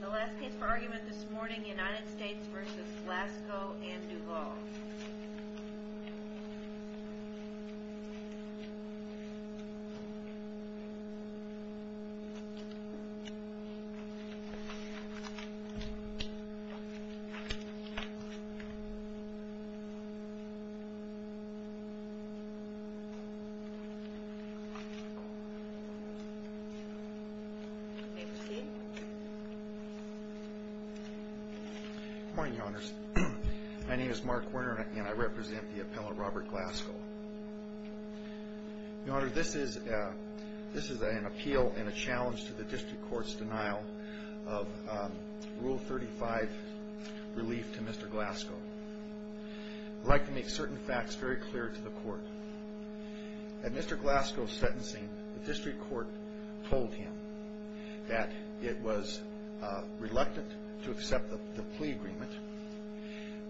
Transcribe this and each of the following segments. The last case for argument this morning, United States v. Glasgow and Duval. Good morning, Your Honors. My name is Mark Werner and I represent the Appellant Robert Glasgow. Your Honor, this is an appeal and a challenge to the District Court's denial of Rule 35 relief to Mr. Glasgow. I'd like to make certain facts very clear to the Court. At Mr. Glasgow's sentencing, the District Court told him that it was reluctant to accept the plea agreement,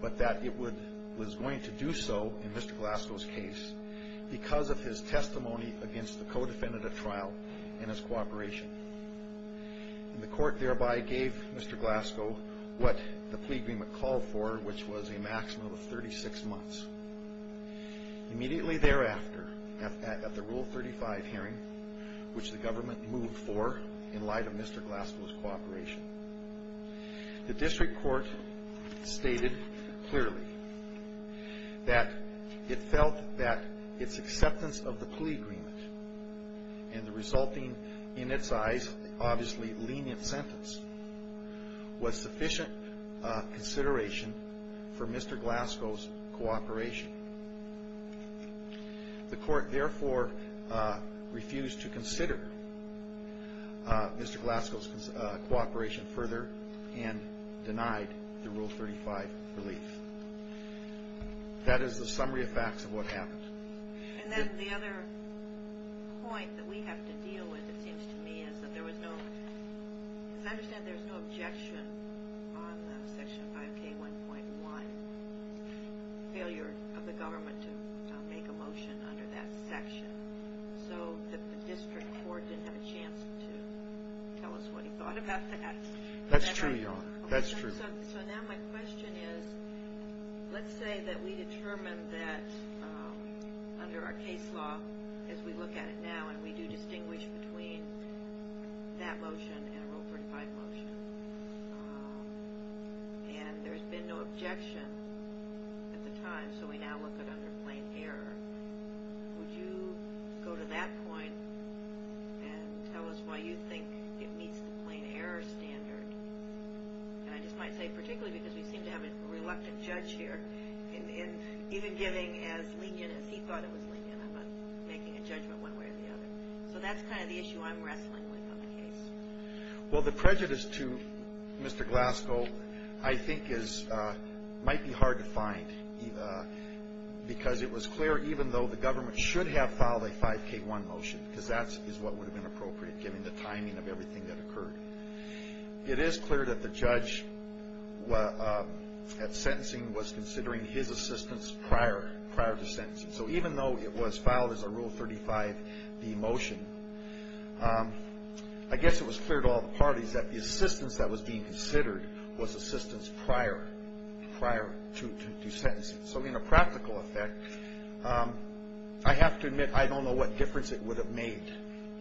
but that it was going to do so in Mr. Glasgow's case because of his testimony against the co-defendant at trial and his cooperation. The Court thereby gave Mr. Glasgow what the plea agreement called for, which was a maximum of 36 months. Immediately thereafter, at the Rule 35 hearing, which the government moved for in light of Mr. Glasgow's cooperation, the District Court stated clearly that it felt that its acceptance of the plea agreement and the resulting, in its eyes, obviously lenient sentence was sufficient consideration for Mr. Glasgow's cooperation. The Court therefore refused to consider Mr. Glasgow's cooperation further and denied the Rule 35 relief. That is the summary of facts of what happened. And then the other point that we have to deal with, it seems to me, is that there was no – because I understand there was no objection on the Section 5K1.1, failure of the government to make a motion under that section. So the District Court didn't have a chance to tell us what he thought about that. That's true, Your Honor. That's true. So now my question is, let's say that we determine that under our case law, as we look at it now, and we do distinguish between that motion and a Rule 35 motion, and there's been no objection at the time, so we now look at it under plain error. Would you go to that point and tell us why you think it meets the plain error standard? And I just might say particularly because we seem to have a reluctant judge here, and even giving as lenient as he thought it was lenient, I'm not making a judgment one way or the other. So that's kind of the issue I'm wrestling with on the case. Well, the prejudice to Mr. Glasgow I think is – might be hard to find, Eva, because it was clear even though the government should have filed a 5K1 motion, because that is what would have been appropriate given the timing of everything that occurred. It is clear that the judge at sentencing was considering his assistance prior to sentencing. So even though it was filed as a Rule 35B motion, I guess it was clear to all the parties that the assistance that was being considered was assistance prior to sentencing. So in a practical effect, I have to admit I don't know what difference it would have made.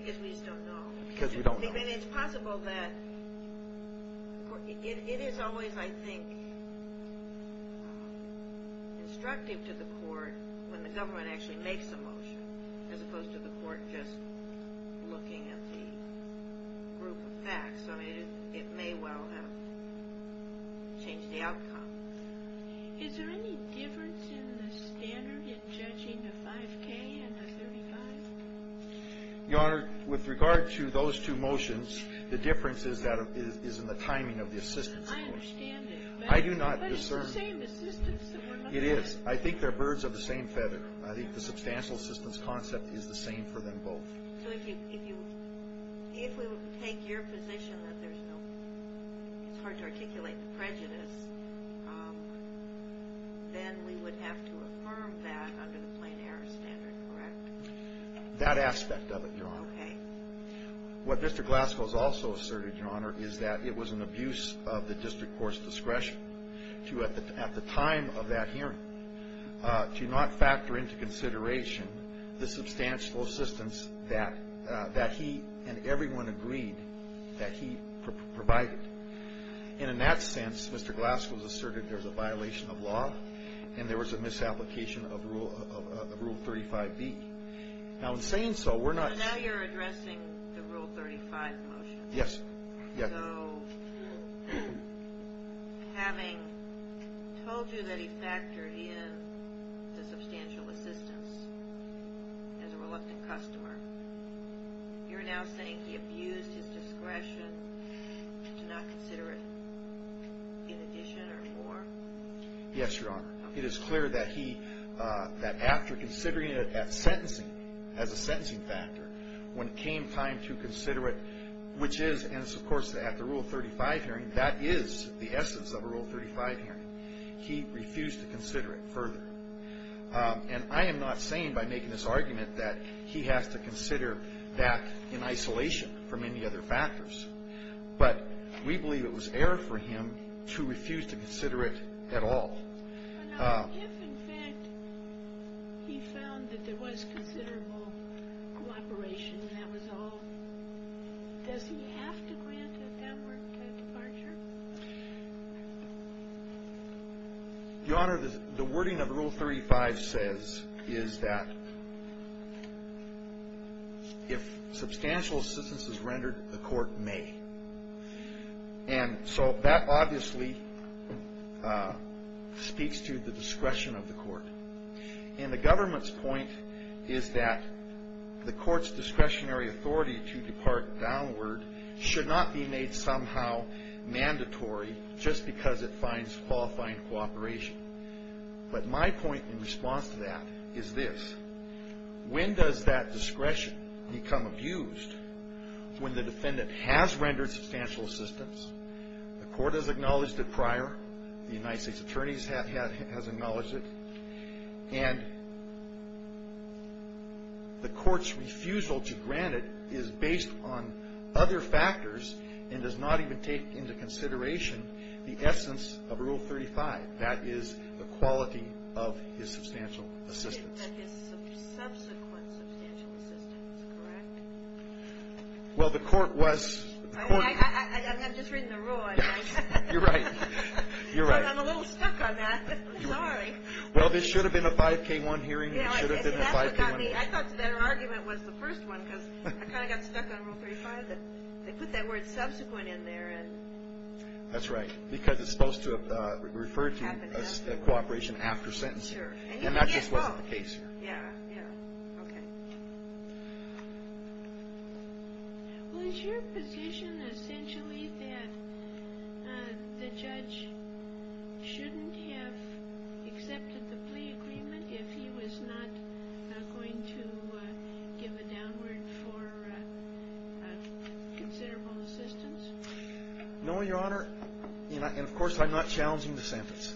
Because we just don't know. Because we don't know. I mean, it's possible that – it is always, I think, instructive to the court when the government actually makes a motion as opposed to the court just looking at the group of facts. I mean, it may well have changed the outcome. Is there any difference in the standard in judging a 5K and a 35? Your Honor, with regard to those two motions, the difference is in the timing of the assistance. I understand it. I do not discern. But it's the same assistance that we're looking at. It is. I think they're birds of the same feather. I think the substantial assistance concept is the same for them both. So if you – if we would take your position that there's no – it's hard to articulate the prejudice, then we would have to affirm that under the plain error standard, correct? That aspect of it, Your Honor. Okay. What Mr. Glasgow has also asserted, Your Honor, is that it was an abuse of the district court's discretion to, at the time of that hearing, to not factor into consideration the substantial assistance that he and everyone agreed that he provided. And in that sense, Mr. Glasgow has asserted there's a violation of law and there was a misapplication of Rule 35B. Now, in saying so, we're not – So now you're addressing the Rule 35 motion. Yes. So having told you that he factored in the substantial assistance as a reluctant customer, you're now saying he abused his discretion to not consider it in addition or more? Yes, Your Honor. Okay. It is clear that he – that after considering it at sentencing, as a sentencing factor, when it came time to consider it, which is – and it's, of course, at the Rule 35 hearing. That is the essence of a Rule 35 hearing. He refused to consider it further. And I am not saying by making this argument that he has to consider that in isolation from any other factors. But we believe it was error for him to refuse to consider it at all. Now, if, in fact, he found that there was considerable cooperation and that was all, does he have to grant a downward departure? Your Honor, the wording of Rule 35 says is that if substantial assistance is rendered, the court may. And so that obviously speaks to the discretion of the court. And the government's point is that the court's discretionary authority to depart downward should not be made somehow mandatory just because it finds qualifying cooperation. But my point in response to that is this. When does that discretion become abused when the defendant has rendered substantial assistance, the court has acknowledged it prior, the United States attorneys have acknowledged it, and the court's refusal to grant it is based on other factors and does not even take into consideration the essence of Rule 35. That is the quality of his substantial assistance. But his subsequent substantial assistance, correct? Well, the court was. I'm just reading the rule, I guess. You're right. You're right. I'm a little stuck on that. Sorry. Well, this should have been a 5K1 hearing. It should have been a 5K1 hearing. I thought that argument was the first one because I kind of got stuck on Rule 35. They put that word subsequent in there. That's right, because it's supposed to refer to cooperation after sentencing. And that just wasn't the case here. Yeah, yeah. Okay. Well, is your position essentially that the judge shouldn't have accepted the plea agreement if he was not going to give a downward for considerable assistance? No, Your Honor, and, of course, I'm not challenging the sentence.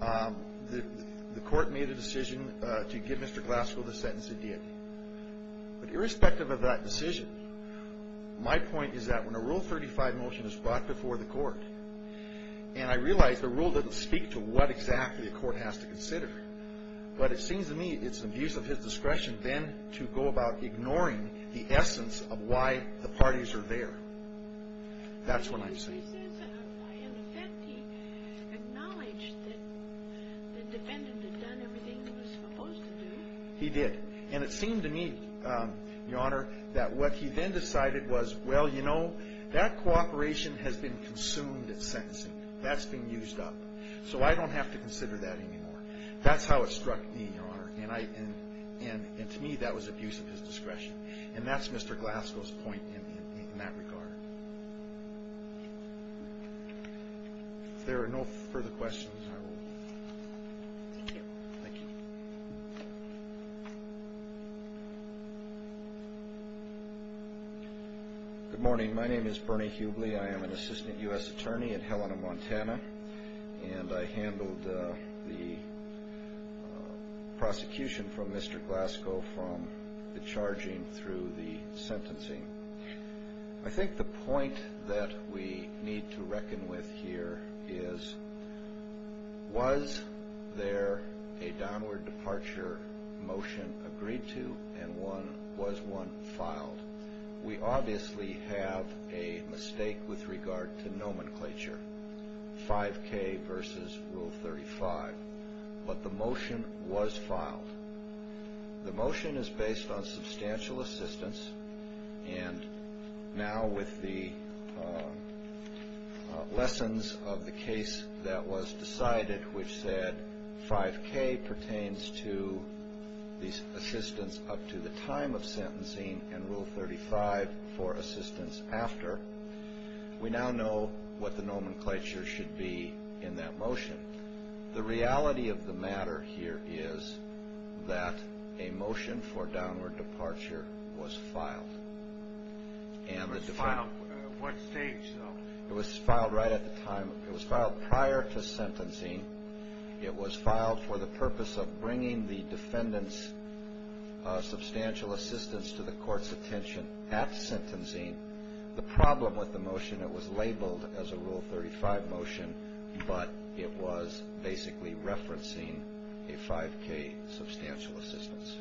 The court made a decision to give Mr. Glasgow the sentence it did. But irrespective of that decision, my point is that when a Rule 35 motion is brought before the court, and I realize the rule doesn't speak to what exactly a court has to consider, but it seems to me it's an abuse of his discretion then to go about ignoring the essence of why the parties are there. That's what I'm saying. He says in effect he acknowledged that the defendant had done everything he was supposed to do. He did. And it seemed to me, Your Honor, that what he then decided was, well, you know, that cooperation has been consumed at sentencing. That's been used up. So I don't have to consider that anymore. That's how it struck me, Your Honor, and to me that was abuse of his discretion. And that's Mr. Glasgow's point in that regard. If there are no further questions, I will. Thank you. Thank you. Good morning. My name is Bernie Hubley. I am an assistant U.S. attorney in Helena, Montana, and I handled the prosecution from Mr. Glasgow from the charging through the sentencing. I think the point that we need to reckon with here is was there a downward departure motion agreed to and was one filed? We obviously have a mistake with regard to nomenclature, 5K versus Rule 35. But the motion was filed. The motion is based on substantial assistance, and now with the lessons of the case that was decided, which said 5K pertains to the assistance up to the time of sentencing and Rule 35 for assistance after, we now know what the nomenclature should be in that motion. The reality of the matter here is that a motion for downward departure was filed. It was filed at what stage? It was filed right at the time. It was filed prior to sentencing. It was filed for the purpose of bringing the defendant's substantial assistance to the court's attention at sentencing. The problem with the motion, it was labeled as a Rule 35 motion, but it was basically referencing a 5K substantial assistance.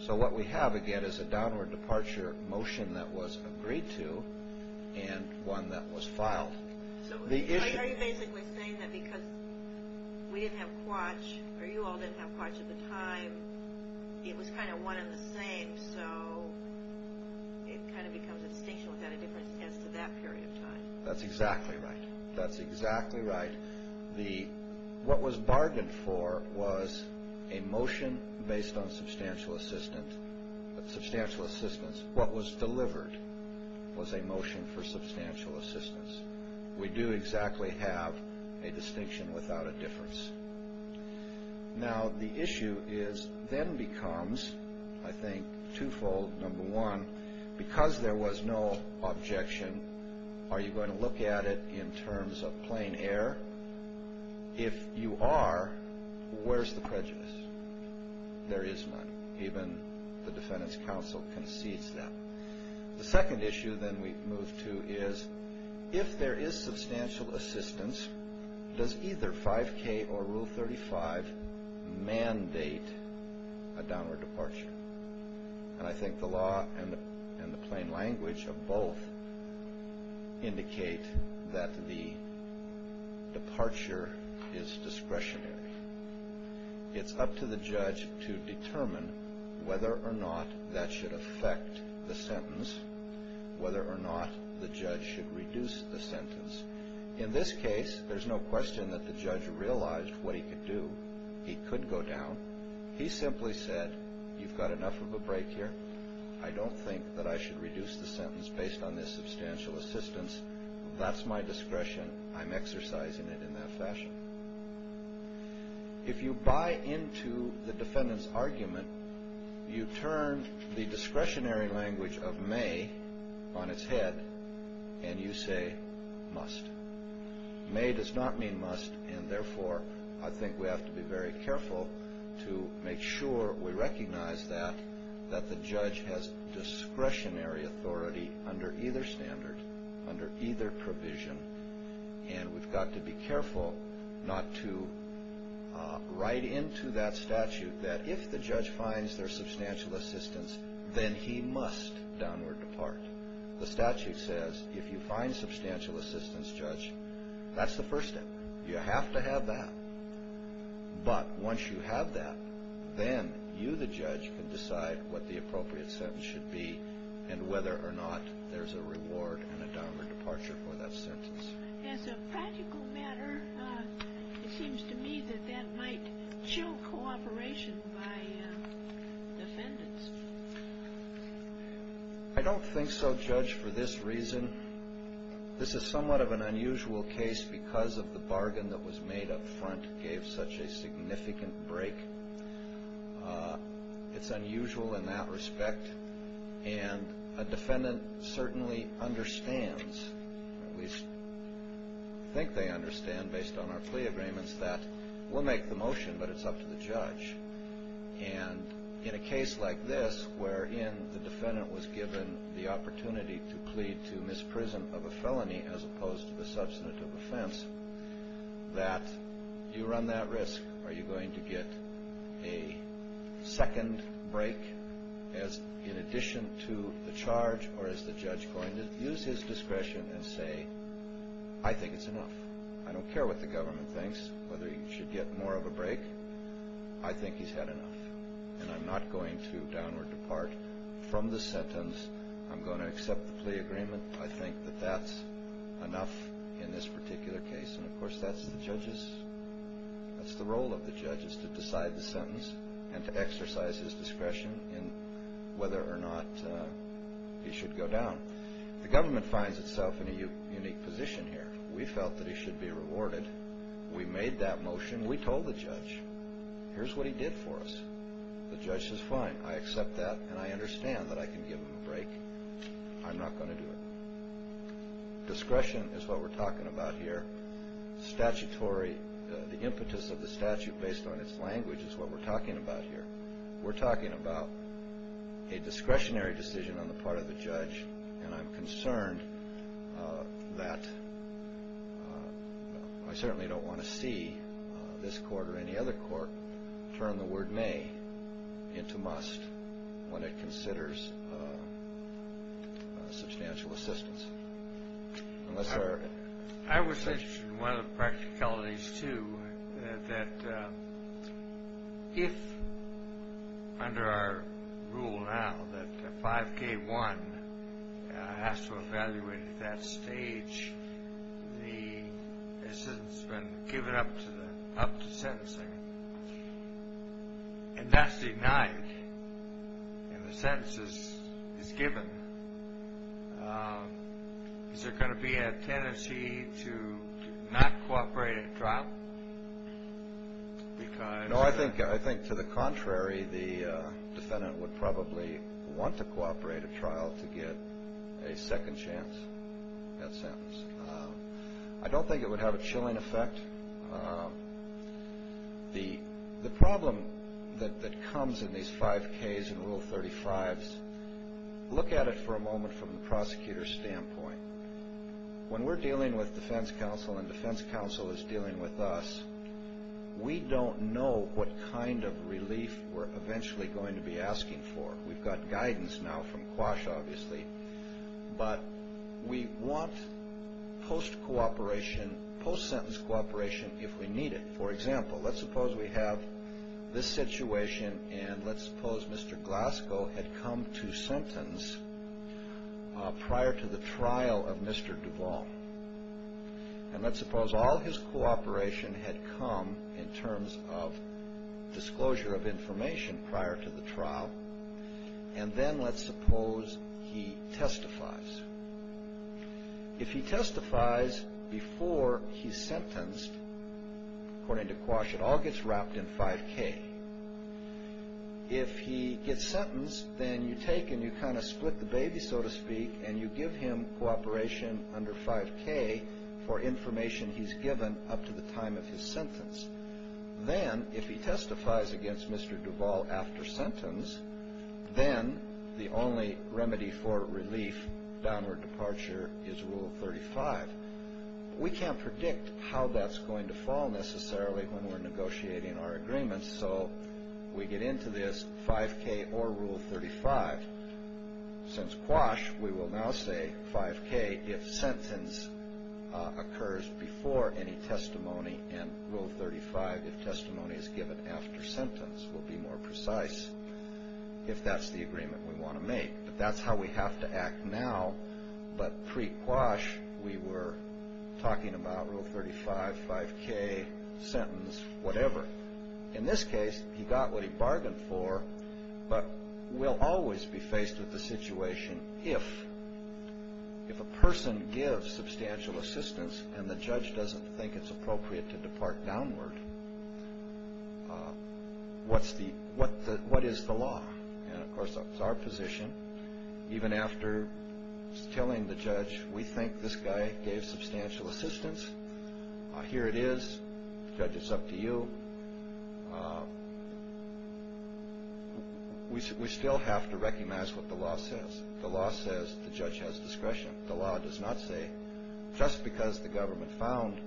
So what we have, again, is a downward departure motion that was agreed to and one that was filed. So are you basically saying that because we didn't have quatch, or you all didn't have quatch at the time, it was kind of one and the same, so it kind of becomes a distinction without a difference as to that period of time? That's exactly right. That's exactly right. What was bargained for was a motion based on substantial assistance. What was delivered was a motion for substantial assistance. We do exactly have a distinction without a difference. Now, the issue then becomes, I think, twofold. Number one, because there was no objection, are you going to look at it in terms of plain air? If you are, where's the prejudice? There is none. Even the defendant's counsel concedes that. The second issue then we move to is, if there is substantial assistance, does either 5K or Rule 35 mandate a downward departure? And I think the law and the plain language of both indicate that the departure is discretionary. It's up to the judge to determine whether or not that should affect the sentence, whether or not the judge should reduce the sentence. In this case, there's no question that the judge realized what he could do. He could go down. He simply said, you've got enough of a break here. I don't think that I should reduce the sentence based on this substantial assistance. That's my discretion. I'm exercising it in that fashion. If you buy into the defendant's argument, you turn the discretionary language of may on its head, and you say must. May does not mean must, and therefore, I think we have to be very careful to make sure we recognize that, that the judge has discretionary authority under either standard, under either provision, and we've got to be careful not to write into that statute that if the judge finds there's substantial assistance, then he must downward depart. The statute says if you find substantial assistance, judge, that's the first step. You have to have that. But once you have that, then you, the judge, can decide what the appropriate sentence should be and whether or not there's a reward and a downward departure for that sentence. As a practical matter, it seems to me that that might show cooperation by defendants. I don't think so, Judge, for this reason. This is somewhat of an unusual case because of the bargain that was made up front gave such a significant break. It's unusual in that respect, and a defendant certainly understands, at least I think they understand based on our plea agreements, that we'll make the motion, but it's up to the judge. And in a case like this, wherein the defendant was given the opportunity to plead to misprison of a felony as opposed to the substantive offense, that you run that risk. Are you going to get a second break in addition to the charge, or is the judge going to use his discretion and say, I think it's enough? I don't care what the government thinks, whether he should get more of a break. I think he's had enough, and I'm not going to downward depart from the sentence. I'm going to accept the plea agreement. I think that that's enough in this particular case. And, of course, that's the role of the judge is to decide the sentence and to exercise his discretion in whether or not he should go down. The government finds itself in a unique position here. We felt that he should be rewarded. We made that motion. We told the judge, here's what he did for us. The judge says, fine, I accept that, and I understand that I can give him a break. I'm not going to do it. Discretion is what we're talking about here. Statutory, the impetus of the statute based on its language is what we're talking about here. We're talking about a discretionary decision on the part of the judge, and I'm concerned that I certainly don't want to see this court or any other court turn the word may into must when it considers substantial assistance. I was interested in one of the practicalities, too, that if under our rule now that 5K1 has to evaluate at that stage, the assistance has been given up to sentencing, and that's denied, and the sentence is given, is there going to be a tendency to not cooperate at trial? No, I think to the contrary. The defendant would probably want to cooperate at trial to get a second chance at sentence. I don't think it would have a chilling effect. The problem that comes in these 5Ks and Rule 35s, look at it for a moment from the prosecutor's standpoint. When we're dealing with defense counsel and defense counsel is dealing with us, we don't know what kind of relief we're eventually going to be asking for. We've got guidance now from Quash, obviously, but we want post-sentence cooperation if we need it. For example, let's suppose we have this situation, and let's suppose Mr. Glasgow had come to sentence prior to the trial of Mr. Duvall, and let's suppose all his cooperation had come in terms of disclosure of information prior to the trial, and then let's suppose he testifies. If he testifies before he's sentenced, according to Quash, it all gets wrapped in 5K. If he gets sentenced, then you take and you kind of split the baby, so to speak, and you give him cooperation under 5K for information he's given up to the time of his sentence. Then, if he testifies against Mr. Duvall after sentence, then the only remedy for relief, downward departure, is Rule 35. We can't predict how that's going to fall, necessarily, when we're negotiating our agreements, so we get into this 5K or Rule 35. Since Quash, we will now say 5K if sentence occurs before any testimony, and Rule 35 if testimony is given after sentence. We'll be more precise if that's the agreement we want to make, but that's how we have to act now. But pre-Quash, we were talking about Rule 35, 5K, sentence, whatever. In this case, he got what he bargained for, but we'll always be faced with the situation if a person gives substantial assistance and the judge doesn't think it's appropriate to depart downward, what is the law? Of course, that's our position. Even after telling the judge, we think this guy gave substantial assistance. Here it is. Judge, it's up to you. We still have to recognize what the law says. The law says the judge has discretion. The law does not say, just because the government found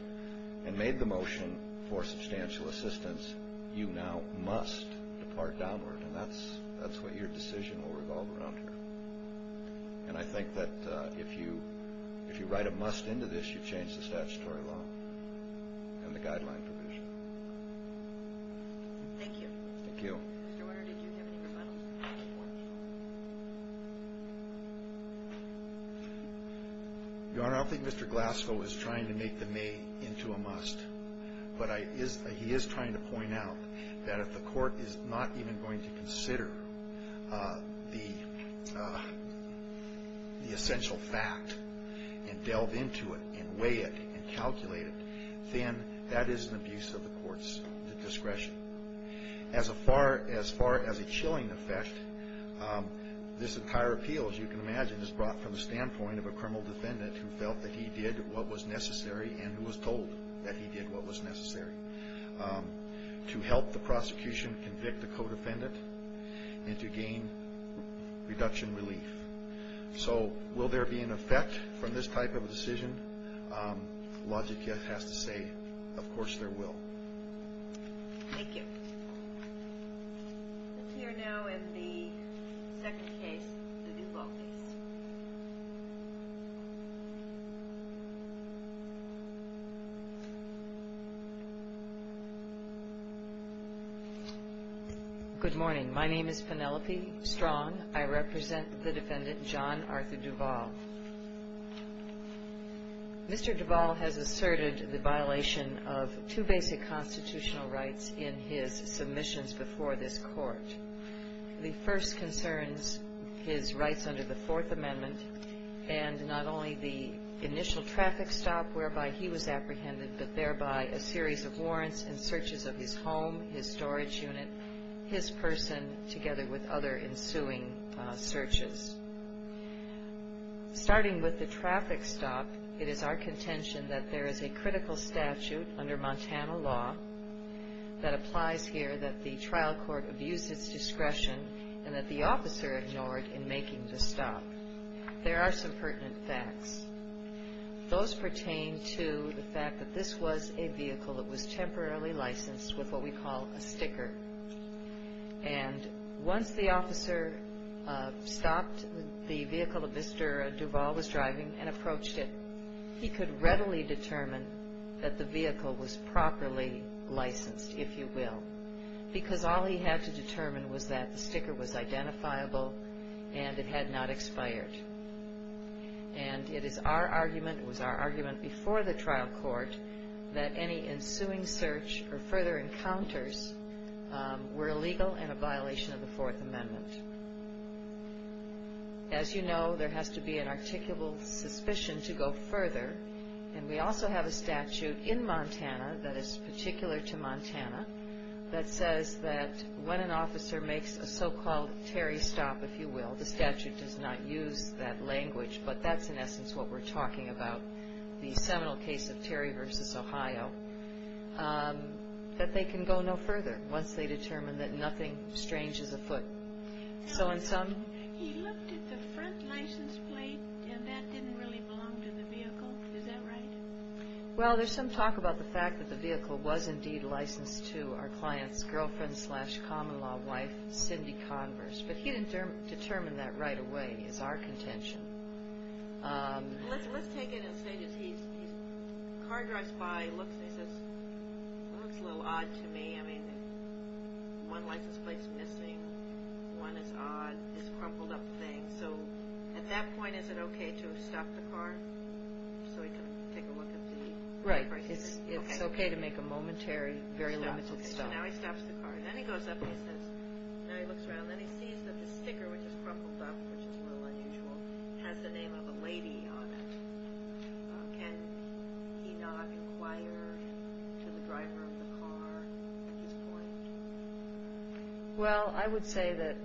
and made the motion for substantial assistance, you now must depart downward, and that's what your decision will revolve around here. And I think that if you write a must into this, you change the statutory law and the guideline provision. Thank you. Thank you. Mr. Warner, did you have any rebuttals? Your Honor, I don't think Mr. Glasgow is trying to make the may into a must, but he is trying to point out that if the court is not even going to consider the essential fact and delve into it and weigh it and calculate it, then that is an abuse of the court's discretion. As far as a chilling effect, this entire appeal, as you can imagine, is brought from the standpoint of a criminal defendant who felt that he did what was necessary and who was told that he did what was necessary to help the prosecution convict the co-defendant and to gain reduction relief. So will there be an effect from this type of a decision? Logic has to say, of course there will. Thank you. Let's hear now in the second case, the Duval case. Good morning. My name is Penelope Strong. I represent the defendant John Arthur Duval. Mr. Duval has asserted the violation of two basic constitutional rights in his submissions before this court. The first concerns his rights under the Fourth Amendment and not only the initial traffic stop whereby he was apprehended, but thereby a series of warrants and searches of his home, his storage unit, his person, together with other ensuing searches. Starting with the traffic stop, it is our contention that there is a critical statute under Montana law that applies here that the trial court abused its discretion and that the officer ignored in making the stop. There are some pertinent facts. Those pertain to the fact that this was a vehicle that was temporarily licensed with what we call a sticker. And once the officer stopped the vehicle that Mr. Duval was driving and approached it, he could readily determine that the vehicle was properly licensed, if you will, because all he had to determine was that the sticker was identifiable and it had not expired. And it is our argument, it was our argument before the trial court, that any ensuing search or further encounters were illegal and a violation of the Fourth Amendment. As you know, there has to be an articulable suspicion to go further, and we also have a statute in Montana that is particular to Montana that says that when an officer makes a so-called Terry stop, if you will, the statute does not use that language, but that's in essence what we're talking about, the seminal case of Terry v. Ohio, that they can go no further once they determine that nothing strange is afoot. So in some... He looked at the front license plate and that didn't really belong to the vehicle. Is that right? Well, there's some talk about the fact that the vehicle was indeed licensed to our client's girlfriend slash common-law wife, Cindy Converse, but he didn't determine that right away, is our contention. Let's take it and say that he's... The car drives by, he looks and he says, well, it's a little odd to me, I mean, one license plate's missing, one is odd, it's a crumpled up thing, so at that point is it okay to stop the car so he can take a look at the... Right, it's okay to make a momentary, very limited stop. Now he stops the car and then he goes up and he says... Now he looks around and he sees that the sticker, which is crumpled up, which is a little unusual, has the name of a lady on it. Can he not inquire to the driver of the car at this point? Well, I would say that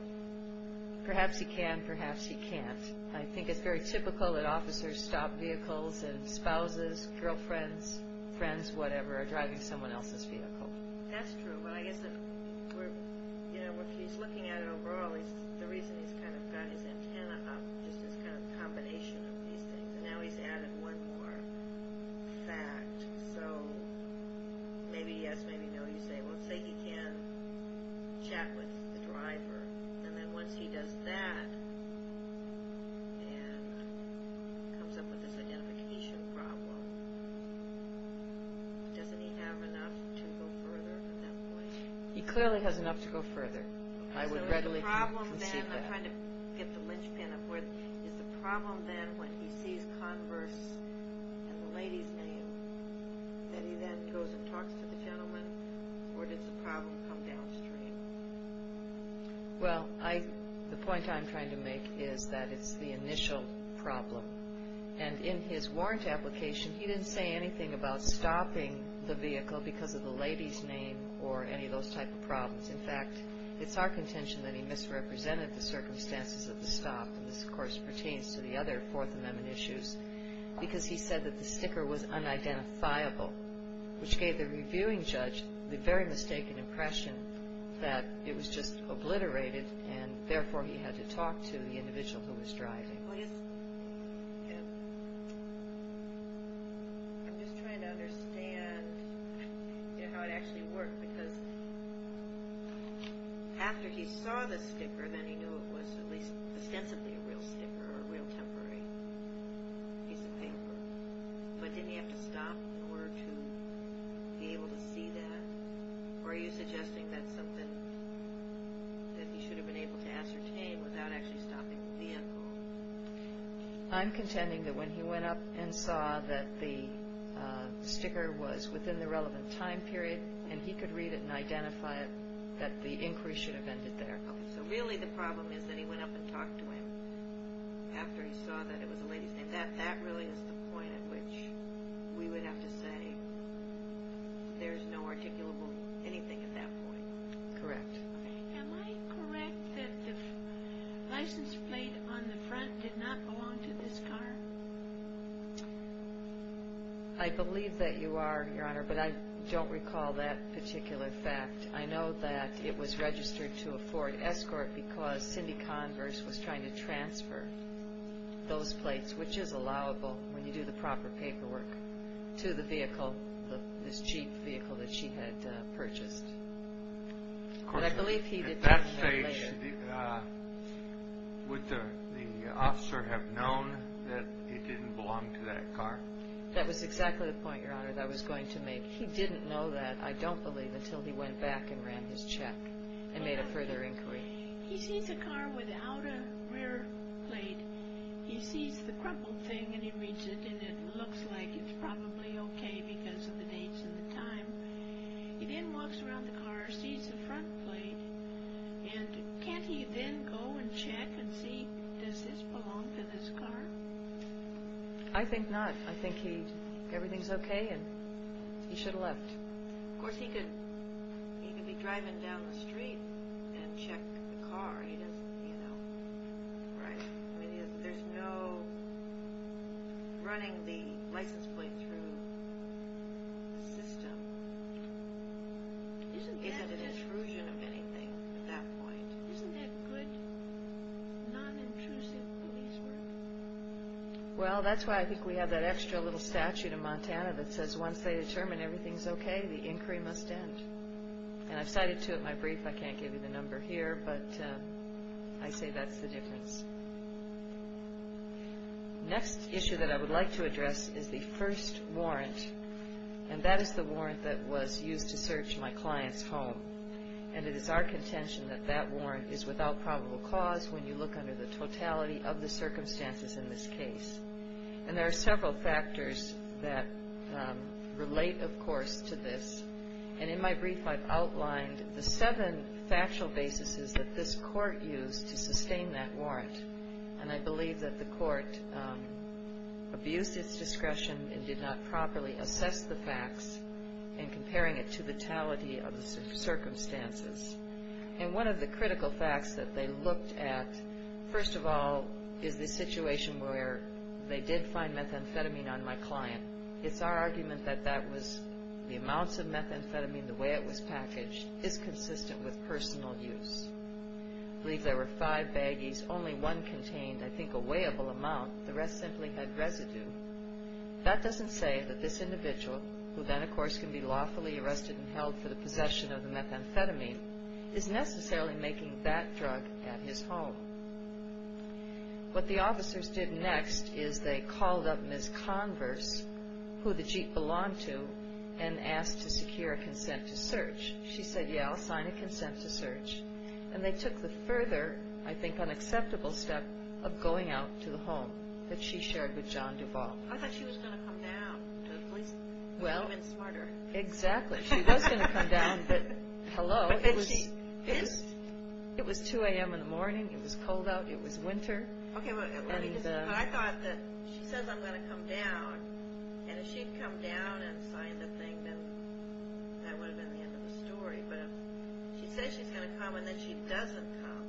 perhaps he can, perhaps he can't. I think it's very typical that officers stop vehicles and spouses, girlfriends, friends, whatever, are driving someone else's vehicle. That's true, but I guess if he's looking at it overall, the reason he's kind of got his antenna up, just this kind of combination of these things, and now he's added one more fact, so maybe yes, maybe no, you say, well, say he can chat with the driver, and then once he does that and comes up with this identification problem, doesn't he have enough to go further at that point? He clearly has enough to go further. I would readily concede that. I'm trying to get the linchpin up. Is the problem then when he sees Converse and the lady's name that he then goes and talks to the gentleman, or does the problem come downstream? Well, the point I'm trying to make is that it's the initial problem, and in his warrant application, he didn't say anything about stopping the vehicle because of the lady's name or any of those type of problems. In fact, it's our contention that he misrepresented the circumstances of the stop, and this, of course, pertains to the other Fourth Amendment issues, because he said that the sticker was unidentifiable, which gave the reviewing judge the very mistaken impression that it was just obliterated, and therefore he had to talk to the individual who was driving. I'm just trying to understand how it actually worked, because after he saw the sticker, then he knew it was at least ostensibly a real sticker or a real temporary piece of paper, but didn't he have to stop in order to be able to see that? Or are you suggesting that's something that he should have been able to ascertain without actually stopping the vehicle? I'm contending that when he went up and saw that the sticker was within the relevant time period and he could read it and identify it, that the inquiry should have ended there. So really the problem is that he went up and talked to him after he saw that it was a lady's name. That really is the point at which we would have to say there's no articulable anything at that point. Correct. Am I correct that the license plate on the front did not belong to this car? I believe that you are, Your Honor, but I don't recall that particular fact. I know that it was registered to a Ford Escort because Cindy Converse was trying to transfer those plates, which is allowable when you do the proper paperwork, to the vehicle, this cheap vehicle that she had purchased. At that stage, would the officer have known that it didn't belong to that car? That was exactly the point, Your Honor, that I was going to make. He didn't know that, I don't believe, until he went back and ran his check and made a further inquiry. He sees a car without a rear plate. He sees the crumpled thing and he reads it and it looks like it's probably okay because of the dates and the time. He then walks around the car, sees the front plate, and can't he then go and check and see, does this belong to this car? I think not. I think everything's okay and he should have left. Of course, he could be driving down the street and check the car. There's no running the license plate through the system. It's an intrusion of anything at that point. Isn't that good? Non-intrusive police work. Well, that's why I think we have that extra little statute in Montana that says once they determine everything's okay, the inquiry must end. I've cited to it in my brief, I can't give you the number here, but I say that's the difference. Next issue that I would like to address is the first warrant, and that is the warrant that was used to search my client's home. It is our contention that that warrant is without probable cause when you look under the totality of the circumstances in this case. There are several factors that relate, of course, to this. And in my brief, I've outlined the seven factual bases that this court used to sustain that warrant. And I believe that the court abused its discretion and did not properly assess the facts in comparing it to the totality of the circumstances. And one of the critical facts that they looked at, first of all, is the situation where they did find methamphetamine on my client. It's our argument that the amounts of methamphetamine, the way it was packaged, is consistent with personal use. I believe there were five baggies. Only one contained, I think, a weighable amount. The rest simply had residue. That doesn't say that this individual, who then, of course, can be lawfully arrested and held for the possession of the methamphetamine, is necessarily making that drug at his home. What the officers did next is they called up Ms. Converse, who the jeep belonged to, and asked to secure a consent to search. She said, yeah, I'll sign a consent to search. And they took the further, I think, unacceptable step of going out to the home that she shared with John Duvall. I thought she was going to come down to the place. Well, exactly. She was going to come down, but hello. It was 2 a.m. in the morning. It was cold out. It was winter. Okay, well, I thought that she says I'm going to come down, and if she'd come down and signed the thing, then that would have been the end of the story. But she says she's going to come, and then she doesn't come.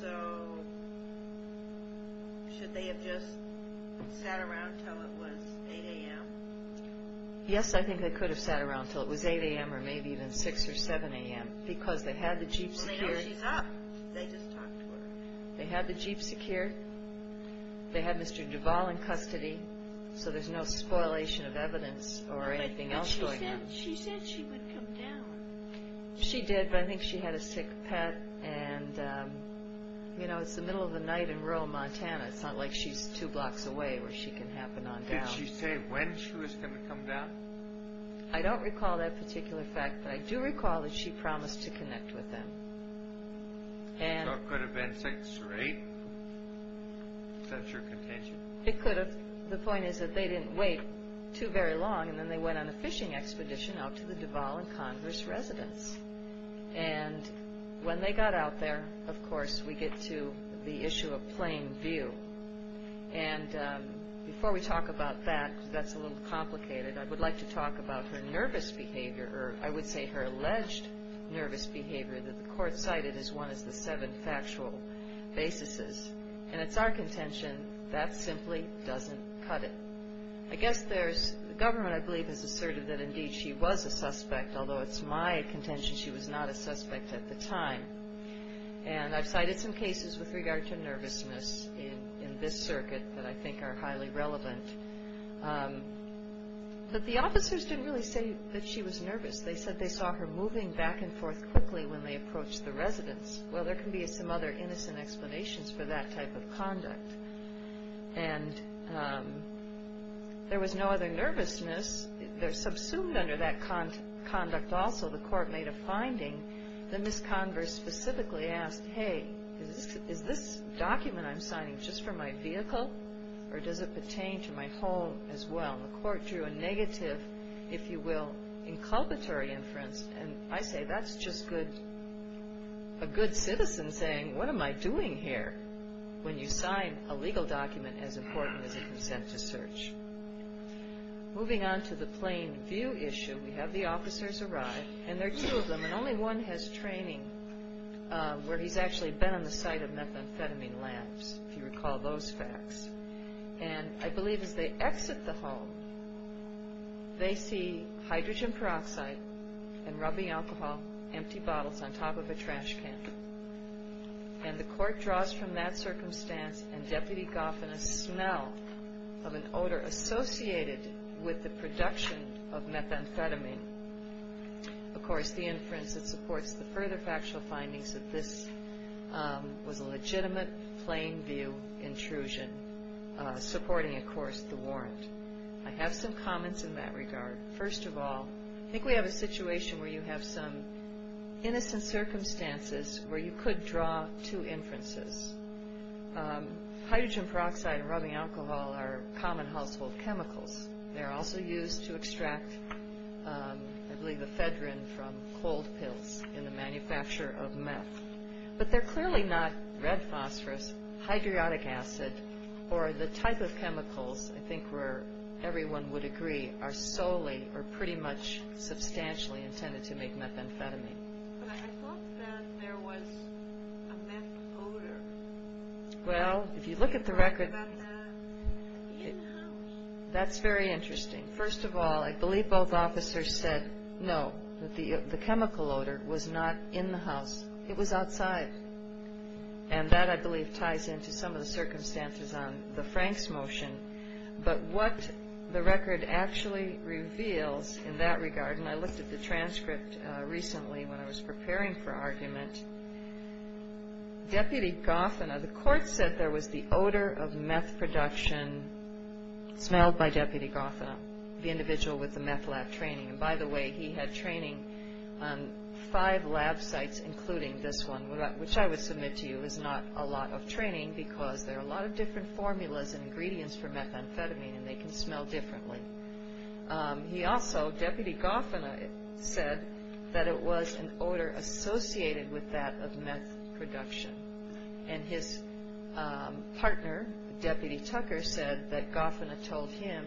So should they have just sat around until it was 8 a.m.? Yes, I think they could have sat around until it was 8 a.m. or maybe even 6 or 7 a.m. Because they had the jeep secured. Well, now she's up. They just talked to her. They had the jeep secured. They had Mr. Duvall in custody, so there's no spoilation of evidence or anything else going on. But she said she would come down. She did, but I think she had a sick pet. And, you know, it's the middle of the night in rural Montana. It's not like she's two blocks away where she can happen on down. Did she say when she was going to come down? I don't recall that particular fact, but I do recall that she promised to connect with them. So it could have been 6 or 8 since your contention? It could have. The point is that they didn't wait too very long, and then they went on a fishing expedition out to the Duvall and Congress residence. And when they got out there, of course, we get to the issue of plain view. And before we talk about that, because that's a little complicated, I would like to talk about her nervous behavior, or I would say her alleged nervous behavior, that the court cited as one of the seven factual basis. And it's our contention that simply doesn't cut it. I guess there's the government, I believe, has asserted that indeed she was a suspect, although it's my contention she was not a suspect at the time. And I've cited some cases with regard to nervousness in this circuit that I think are highly relevant. But the officers didn't really say that she was nervous. They said they saw her moving back and forth quickly when they approached the residence. Well, there can be some other innocent explanations for that type of conduct. And there was no other nervousness. They're subsumed under that conduct also. While the court made a finding, the Miss Converse specifically asked, hey, is this document I'm signing just for my vehicle, or does it pertain to my home as well? The court drew a negative, if you will, inculpatory inference, and I say that's just a good citizen saying, what am I doing here, when you sign a legal document as important as a consent to search? Moving on to the plain view issue, we have the officers arrive, and there are two of them, and only one has training where he's actually been on the site of methamphetamine labs, if you recall those facts. And I believe as they exit the hall, they see hydrogen peroxide and rubbing alcohol, empty bottles, on top of a trash can. And the court draws from that circumstance, and Deputy Goff, and a smell of an odor associated with the production of methamphetamine. Of course, the inference that supports the further factual findings that this was a legitimate plain view intrusion, supporting, of course, the warrant. I have some comments in that regard. First of all, I think we have a situation where you have some innocent circumstances where you could draw two inferences. Hydrogen peroxide and rubbing alcohol are common household chemicals. They're also used to extract, I believe, ephedrine from cold pills in the manufacture of meth. But they're clearly not red phosphorus, hydriotic acid, or the type of chemicals I think where everyone would agree are solely or pretty much substantially intended to make methamphetamine. But I thought that there was a meth odor. Well, if you look at the record, that's very interesting. First of all, I believe both officers said no, that the chemical odor was not in the house. It was outside. And that, I believe, ties into some of the circumstances on the Franks motion. But what the record actually reveals in that regard, and I looked at the transcript recently when I was preparing for argument, Deputy Gothena, the court said there was the odor of meth production smelled by Deputy Gothena, the individual with the meth lab training. And, by the way, he had training on five lab sites, including this one, which I would submit to you is not a lot of training because there are a lot of different formulas and ingredients for methamphetamine, and they can smell differently. He also, Deputy Gothena, said that it was an odor associated with that of meth production. And his partner, Deputy Tucker, said that Gothena told him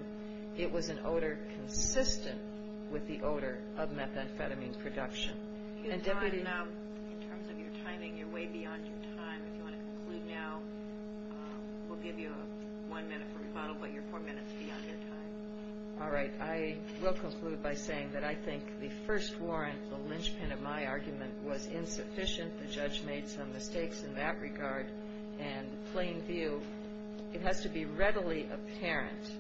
it was an odor consistent with the odor of methamphetamine production. And Deputy... You've gone now, in terms of your timing, you're way beyond your time. If you want to conclude now, we'll give you one minute for rebuttal, but your four minutes will be on your time. All right. I will conclude by saying that I think the first warrant, the linchpin of my argument, was insufficient. The judge made some mistakes in that regard. And plain view, it has to be readily apparent.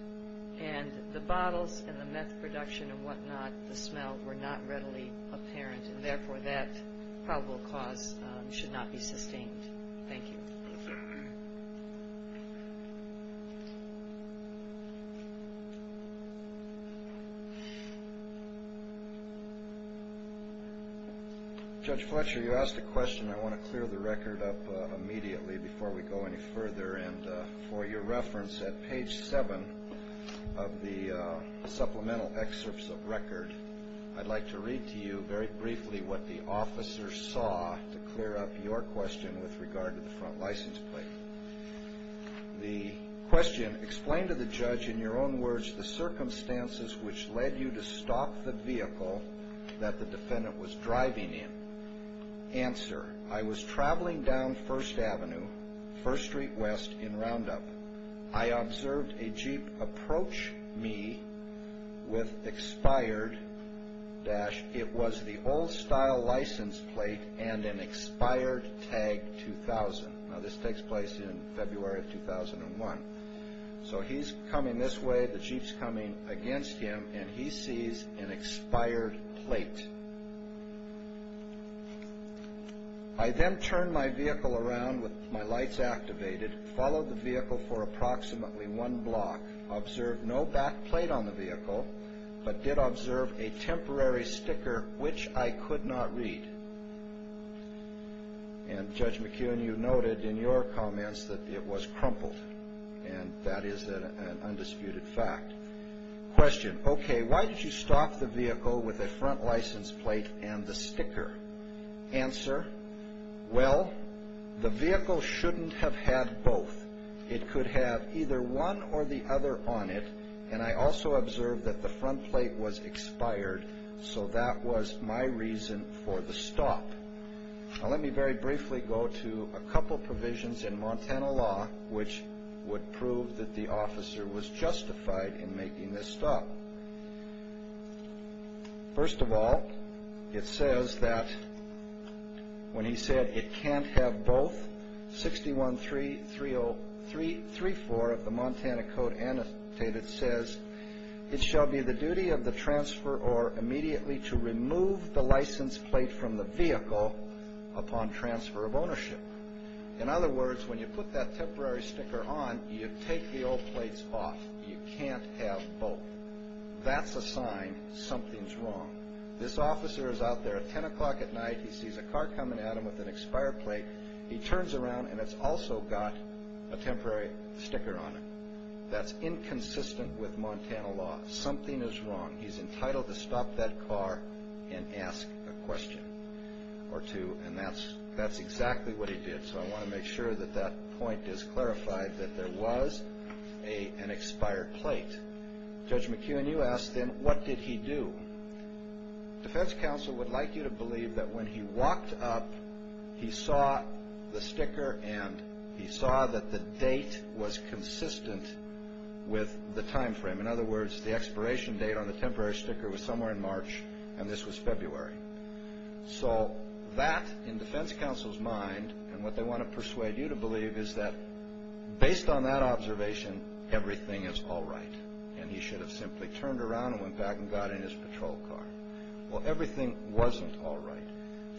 And the bottles and the meth production and whatnot, the smell, were not readily apparent. And, therefore, that probable cause should not be sustained. Thank you. Judge Fletcher, you asked a question. I want to clear the record up immediately before we go any further. And for your reference, at page 7 of the supplemental excerpts of record, I'd like to read to you very briefly what the officer saw to clear up your question with regard to the front license plate. The question, explain to the judge, in your own words, the circumstances which led you to stop the vehicle that the defendant was driving in. Answer, I was traveling down First Avenue, First Street West, in Roundup. I observed a Jeep approach me with expired dash. It was the old-style license plate and an expired tag 2000. Now, this takes place in February of 2001. So he's coming this way, the Jeep's coming against him, and he sees an expired plate. I then turned my vehicle around with my lights activated, followed the vehicle for approximately one block, observed no back plate on the vehicle, but did observe a temporary sticker which I could not read. And Judge McKeown, you noted in your comments that it was crumpled, and that is an undisputed fact. Question, okay, why did you stop the vehicle with a front license plate and the sticker? Answer, well, the vehicle shouldn't have had both. It could have either one or the other on it, and I also observed that the front plate was expired, so that was my reason for the stop. Now, let me very briefly go to a couple provisions in Montana law which would prove that the officer was justified in making this stop. First of all, it says that when he said it can't have both, 61-334 of the Montana Code Annotated says, In other words, when you put that temporary sticker on, you take the old plates off. You can't have both. That's a sign something's wrong. This officer is out there at 10 o'clock at night. He sees a car coming at him with an expired plate. He turns around, and it's also got a temporary sticker on it. That's inconsistent with Montana law. Something is wrong. He's entitled to stop that car and ask a question or two, and that's exactly what he did, so I want to make sure that that point is clarified, that there was an expired plate. Judge McKeown, you asked then, what did he do? Defense counsel would like you to believe that when he walked up, he saw the sticker, and he saw that the date was consistent with the time frame. In other words, the expiration date on the temporary sticker was somewhere in March, and this was February. So that, in defense counsel's mind, and what they want to persuade you to believe, is that based on that observation, everything is all right, and he should have simply turned around and went back and got in his patrol car. Well, everything wasn't all right.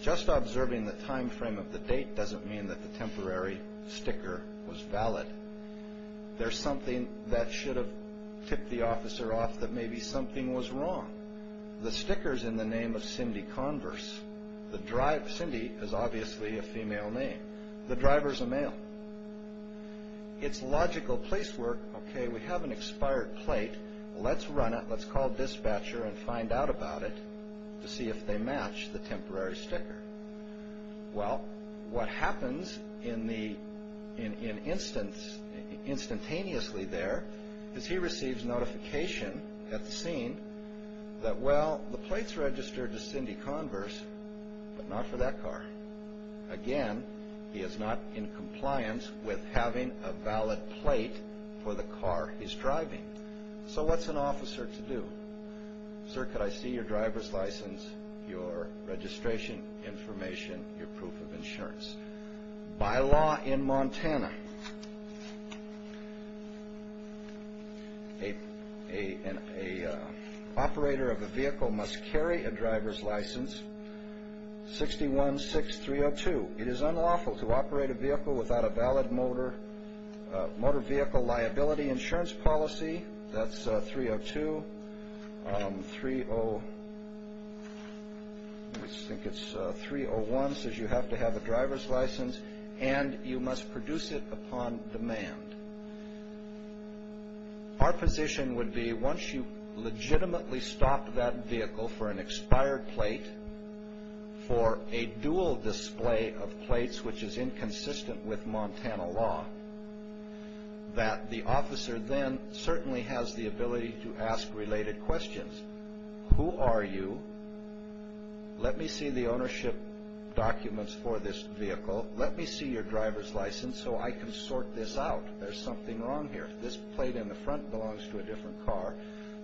Just observing the time frame of the date doesn't mean that the temporary sticker was valid. There's something that should have tipped the officer off that maybe something was wrong. The sticker's in the name of Cindy Converse. Cindy is obviously a female name. The driver's a male. It's logical place work. Okay, we have an expired plate. Let's run it. Let's call dispatcher and find out about it to see if they match the temporary sticker. Well, what happens instantaneously there is he receives notification at the scene that, well, the plate's registered to Cindy Converse, but not for that car. Again, he is not in compliance with having a valid plate for the car he's driving. So what's an officer to do? Sir, could I see your driver's license, your registration information, your proof of insurance? By law in Montana, an operator of a vehicle must carry a driver's license 616302. It is unlawful to operate a vehicle without a valid motor vehicle liability insurance policy. That's 302. 301 says you have to have a driver's license, and you must produce it upon demand. Our position would be once you legitimately stop that vehicle for an expired plate, for a dual display of plates which is inconsistent with Montana law, that the officer then certainly has the ability to ask related questions. Who are you? Let me see the ownership documents for this vehicle. Let me see your driver's license so I can sort this out. There's something wrong here. This plate in the front belongs to a different car.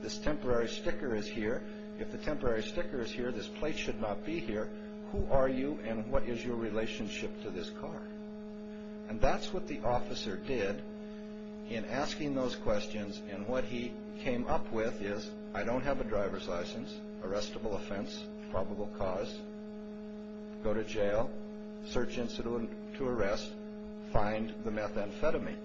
This temporary sticker is here. If the temporary sticker is here, this plate should not be here. Who are you, and what is your relationship to this car? And that's what the officer did in asking those questions, and what he came up with is I don't have a driver's license, arrestable offense, probable cause, go to jail, search incident to arrest, find the methamphetamine.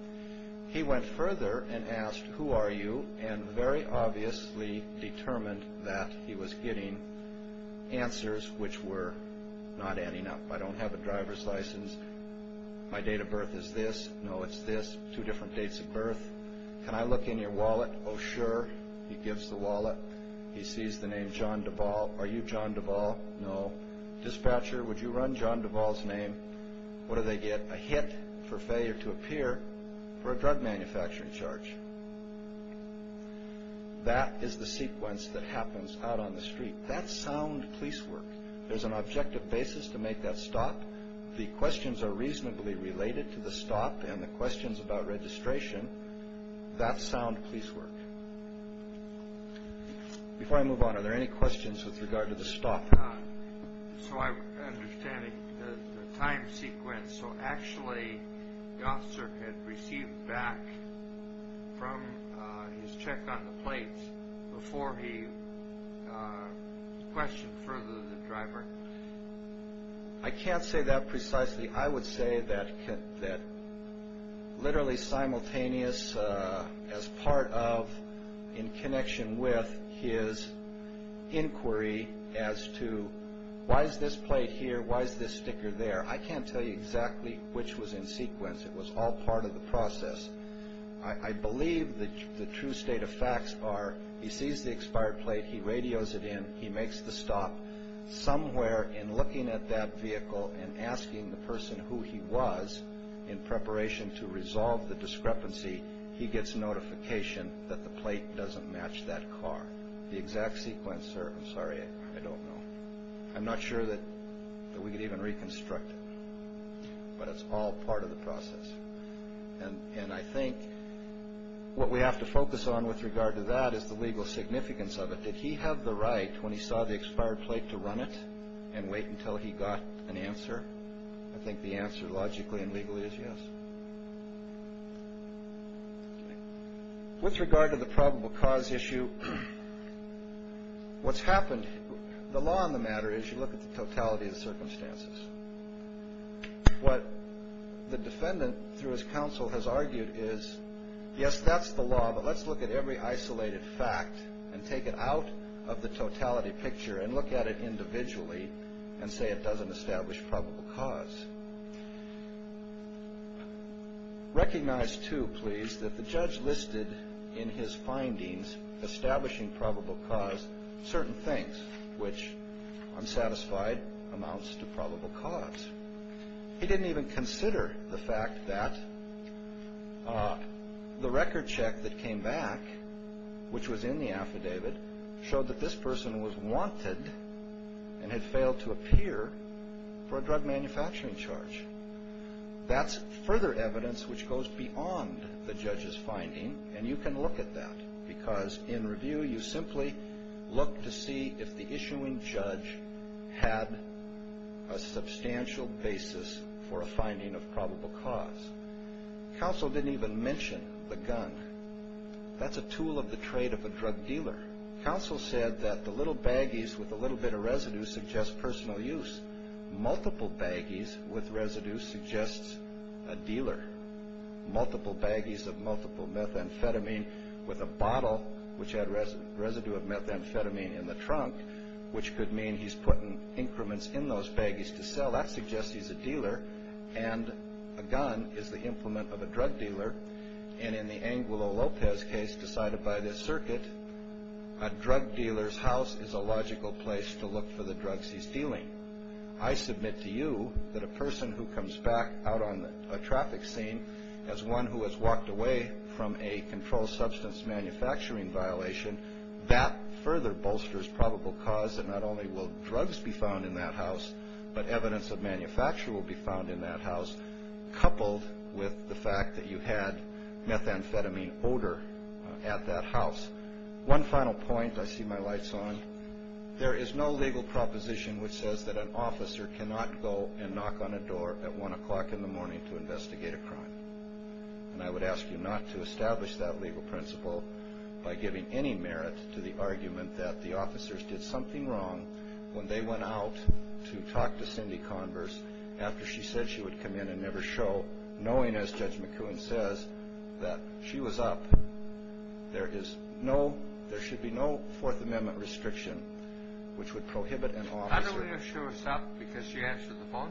He went further and asked who are you, and very obviously determined that he was getting answers which were not adding up. I don't have a driver's license. My date of birth is this. No, it's this. Two different dates of birth. Can I look in your wallet? Oh, sure. He gives the wallet. He sees the name John Duvall. Are you John Duvall? No. Dispatcher, would you run John Duvall's name? What do they get? A hit for failure to appear for a drug manufacturing charge. That is the sequence that happens out on the street. That's sound police work. There's an objective basis to make that stop. The questions are reasonably related to the stop and the questions about registration. That's sound police work. Before I move on, are there any questions with regard to the stop? So I'm understanding the time sequence. So actually, Gosserk had received back from his check on the plates before he questioned further the driver? I can't say that precisely. I would say that literally simultaneous as part of in connection with his inquiry as to why is this plate here, why is this sticker there? I can't tell you exactly which was in sequence. It was all part of the process. I believe the true state of facts are he sees the expired plate, he radios it in, he makes the stop. Somewhere in looking at that vehicle and asking the person who he was in preparation to resolve the discrepancy, he gets notification that the plate doesn't match that car. The exact sequence, sir, I'm sorry, I don't know. I'm not sure that we could even reconstruct it, but it's all part of the process. And I think what we have to focus on with regard to that is the legal significance of it. Did he have the right when he saw the expired plate to run it and wait until he got an answer? I think the answer logically and legally is yes. With regard to the probable cause issue, what's happened? The law on the matter is you look at the totality of the circumstances. What the defendant through his counsel has argued is, yes, that's the law, but let's look at every isolated fact and take it out of the totality picture and look at it individually and say it doesn't establish probable cause. Recognize, too, please, that the judge listed in his findings establishing probable cause certain things, which, I'm satisfied, amounts to probable cause. He didn't even consider the fact that the record check that came back, which was in the affidavit, showed that this person was wanted and had failed to appear for a drug manufacturing charge. That's further evidence which goes beyond the judge's finding, and you can look at that, because in review you simply look to see if the issuing judge had a substantial basis for a finding of probable cause. Counsel didn't even mention the gun. That's a tool of the trade of a drug dealer. Counsel said that the little baggies with a little bit of residue suggest personal use. Multiple baggies with residue suggests a dealer. Multiple baggies of multiple methamphetamine with a bottle which had residue of methamphetamine in the trunk, which could mean he's putting increments in those baggies to sell. That suggests he's a dealer, and a gun is the implement of a drug dealer, and in the Angulo Lopez case decided by this circuit, a drug dealer's house is a logical place to look for the drugs he's dealing. I submit to you that a person who comes back out on a traffic scene as one who has walked away from a controlled substance manufacturing violation, that further bolsters probable cause, and not only will drugs be found in that house, but evidence of manufacture will be found in that house, coupled with the fact that you had methamphetamine odor at that house. One final point, I see my lights on. There is no legal proposition which says that an officer cannot go and knock on a door at 1 o'clock in the morning to investigate a crime. And I would ask you not to establish that legal principle by giving any merit to the argument that the officers did something wrong when they went out to talk to Cindy Converse after she said she would come in and never show, knowing, as Judge McCoon says, that she was up. There should be no Fourth Amendment restriction which would prohibit an officer. How do we know she was up because she answered the phone?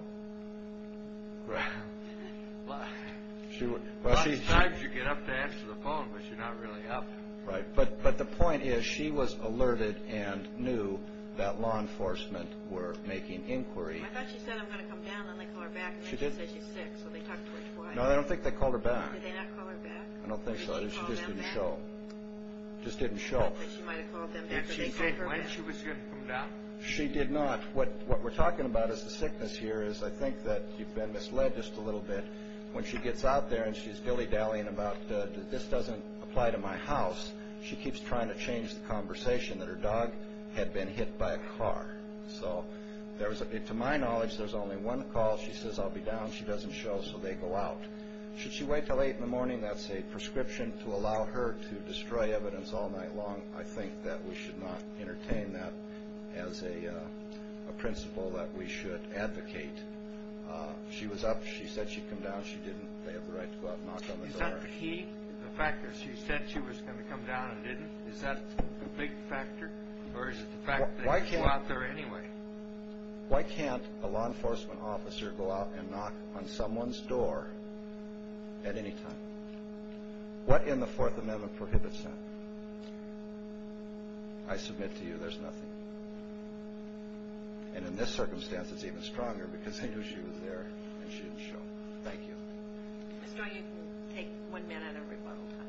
Well, sometimes you get up to answer the phone, but you're not really up. Right, but the point is she was alerted and knew that law enforcement were making inquiry. I thought she said, I'm going to come down, then they call her back, and then she said she's sick, so they talked to her twice. No, I don't think they called her back. Did they not call her back? I don't think so. Did she call them back? She just didn't show. Just didn't show. She might have called them back. And she did when she was going to come down. She did not. What we're talking about is the sickness here is I think that you've been misled just a little bit. When she gets out there and she's dilly-dallying about this doesn't apply to my house, she keeps trying to change the conversation that her dog had been hit by a car. So to my knowledge, there's only one call. She says, I'll be down. She doesn't show, so they go out. Should she wait until 8 in the morning? That's a prescription to allow her to destroy evidence all night long. I think that we should not entertain that as a principle that we should advocate. She was up. She said she'd come down. She didn't. They have the right to go out and knock on the door. Is that the key? The fact that she said she was going to come down and didn't? Is that the big factor or is it the fact that they go out there anyway? Why can't a law enforcement officer go out and knock on someone's door at any time? What in the Fourth Amendment prohibits that? I submit to you there's nothing. And in this circumstance, it's even stronger because they knew she was there and she didn't show. Thank you. Mr. O, you can take one minute of rebuttal time.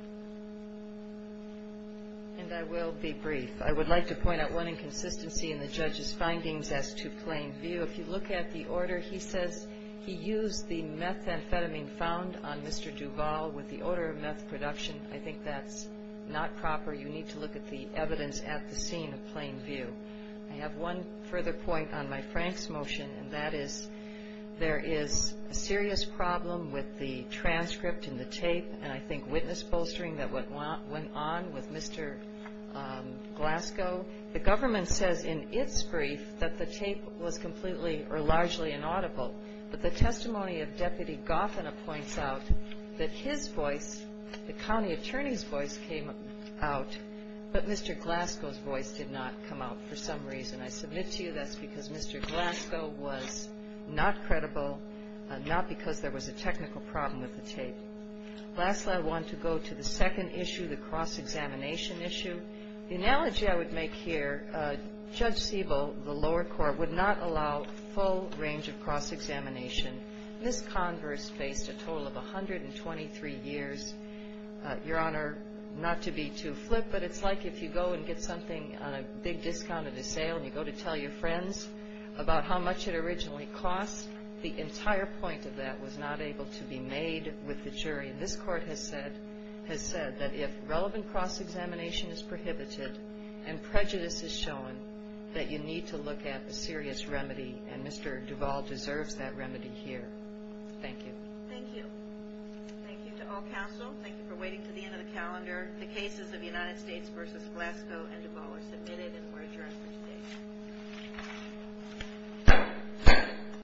And I will be brief. I would like to point out one inconsistency in the judge's findings as to plain view. If you look at the order, he says he used the methamphetamine found on Mr. Duvall with the order of meth production. I think that's not proper. You need to look at the evidence at the scene of plain view. I have one further point on my Frank's motion, and that is there is a serious problem with the transcript and the tape and I think witness bolstering that went on with Mr. Glasgow. The government says in its brief that the tape was completely or largely inaudible, but the testimony of Deputy Goffin points out that his voice, the county attorney's voice came out, but Mr. Glasgow's voice did not come out for some reason. I submit to you that's because Mr. Glasgow was not credible, not because there was a technical problem with the tape. Lastly, I want to go to the second issue, the cross-examination issue. The analogy I would make here, Judge Siebel, the lower court, would not allow full range of cross-examination. This converse faced a total of 123 years. Your Honor, not to be too flip, but it's like if you go and get something on a big discount at a sale and you go to tell your friends about how much it originally cost. The entire point of that was not able to be made with the jury. This court has said that if relevant cross-examination is prohibited and prejudice is shown, that you need to look at a serious remedy, and Mr. Duvall deserves that remedy here. Thank you. Thank you. Thank you to all counsel. Thank you for waiting to the end of the calendar. The cases of United States v. Glasgow and Duvall are submitted and we're adjourned for today.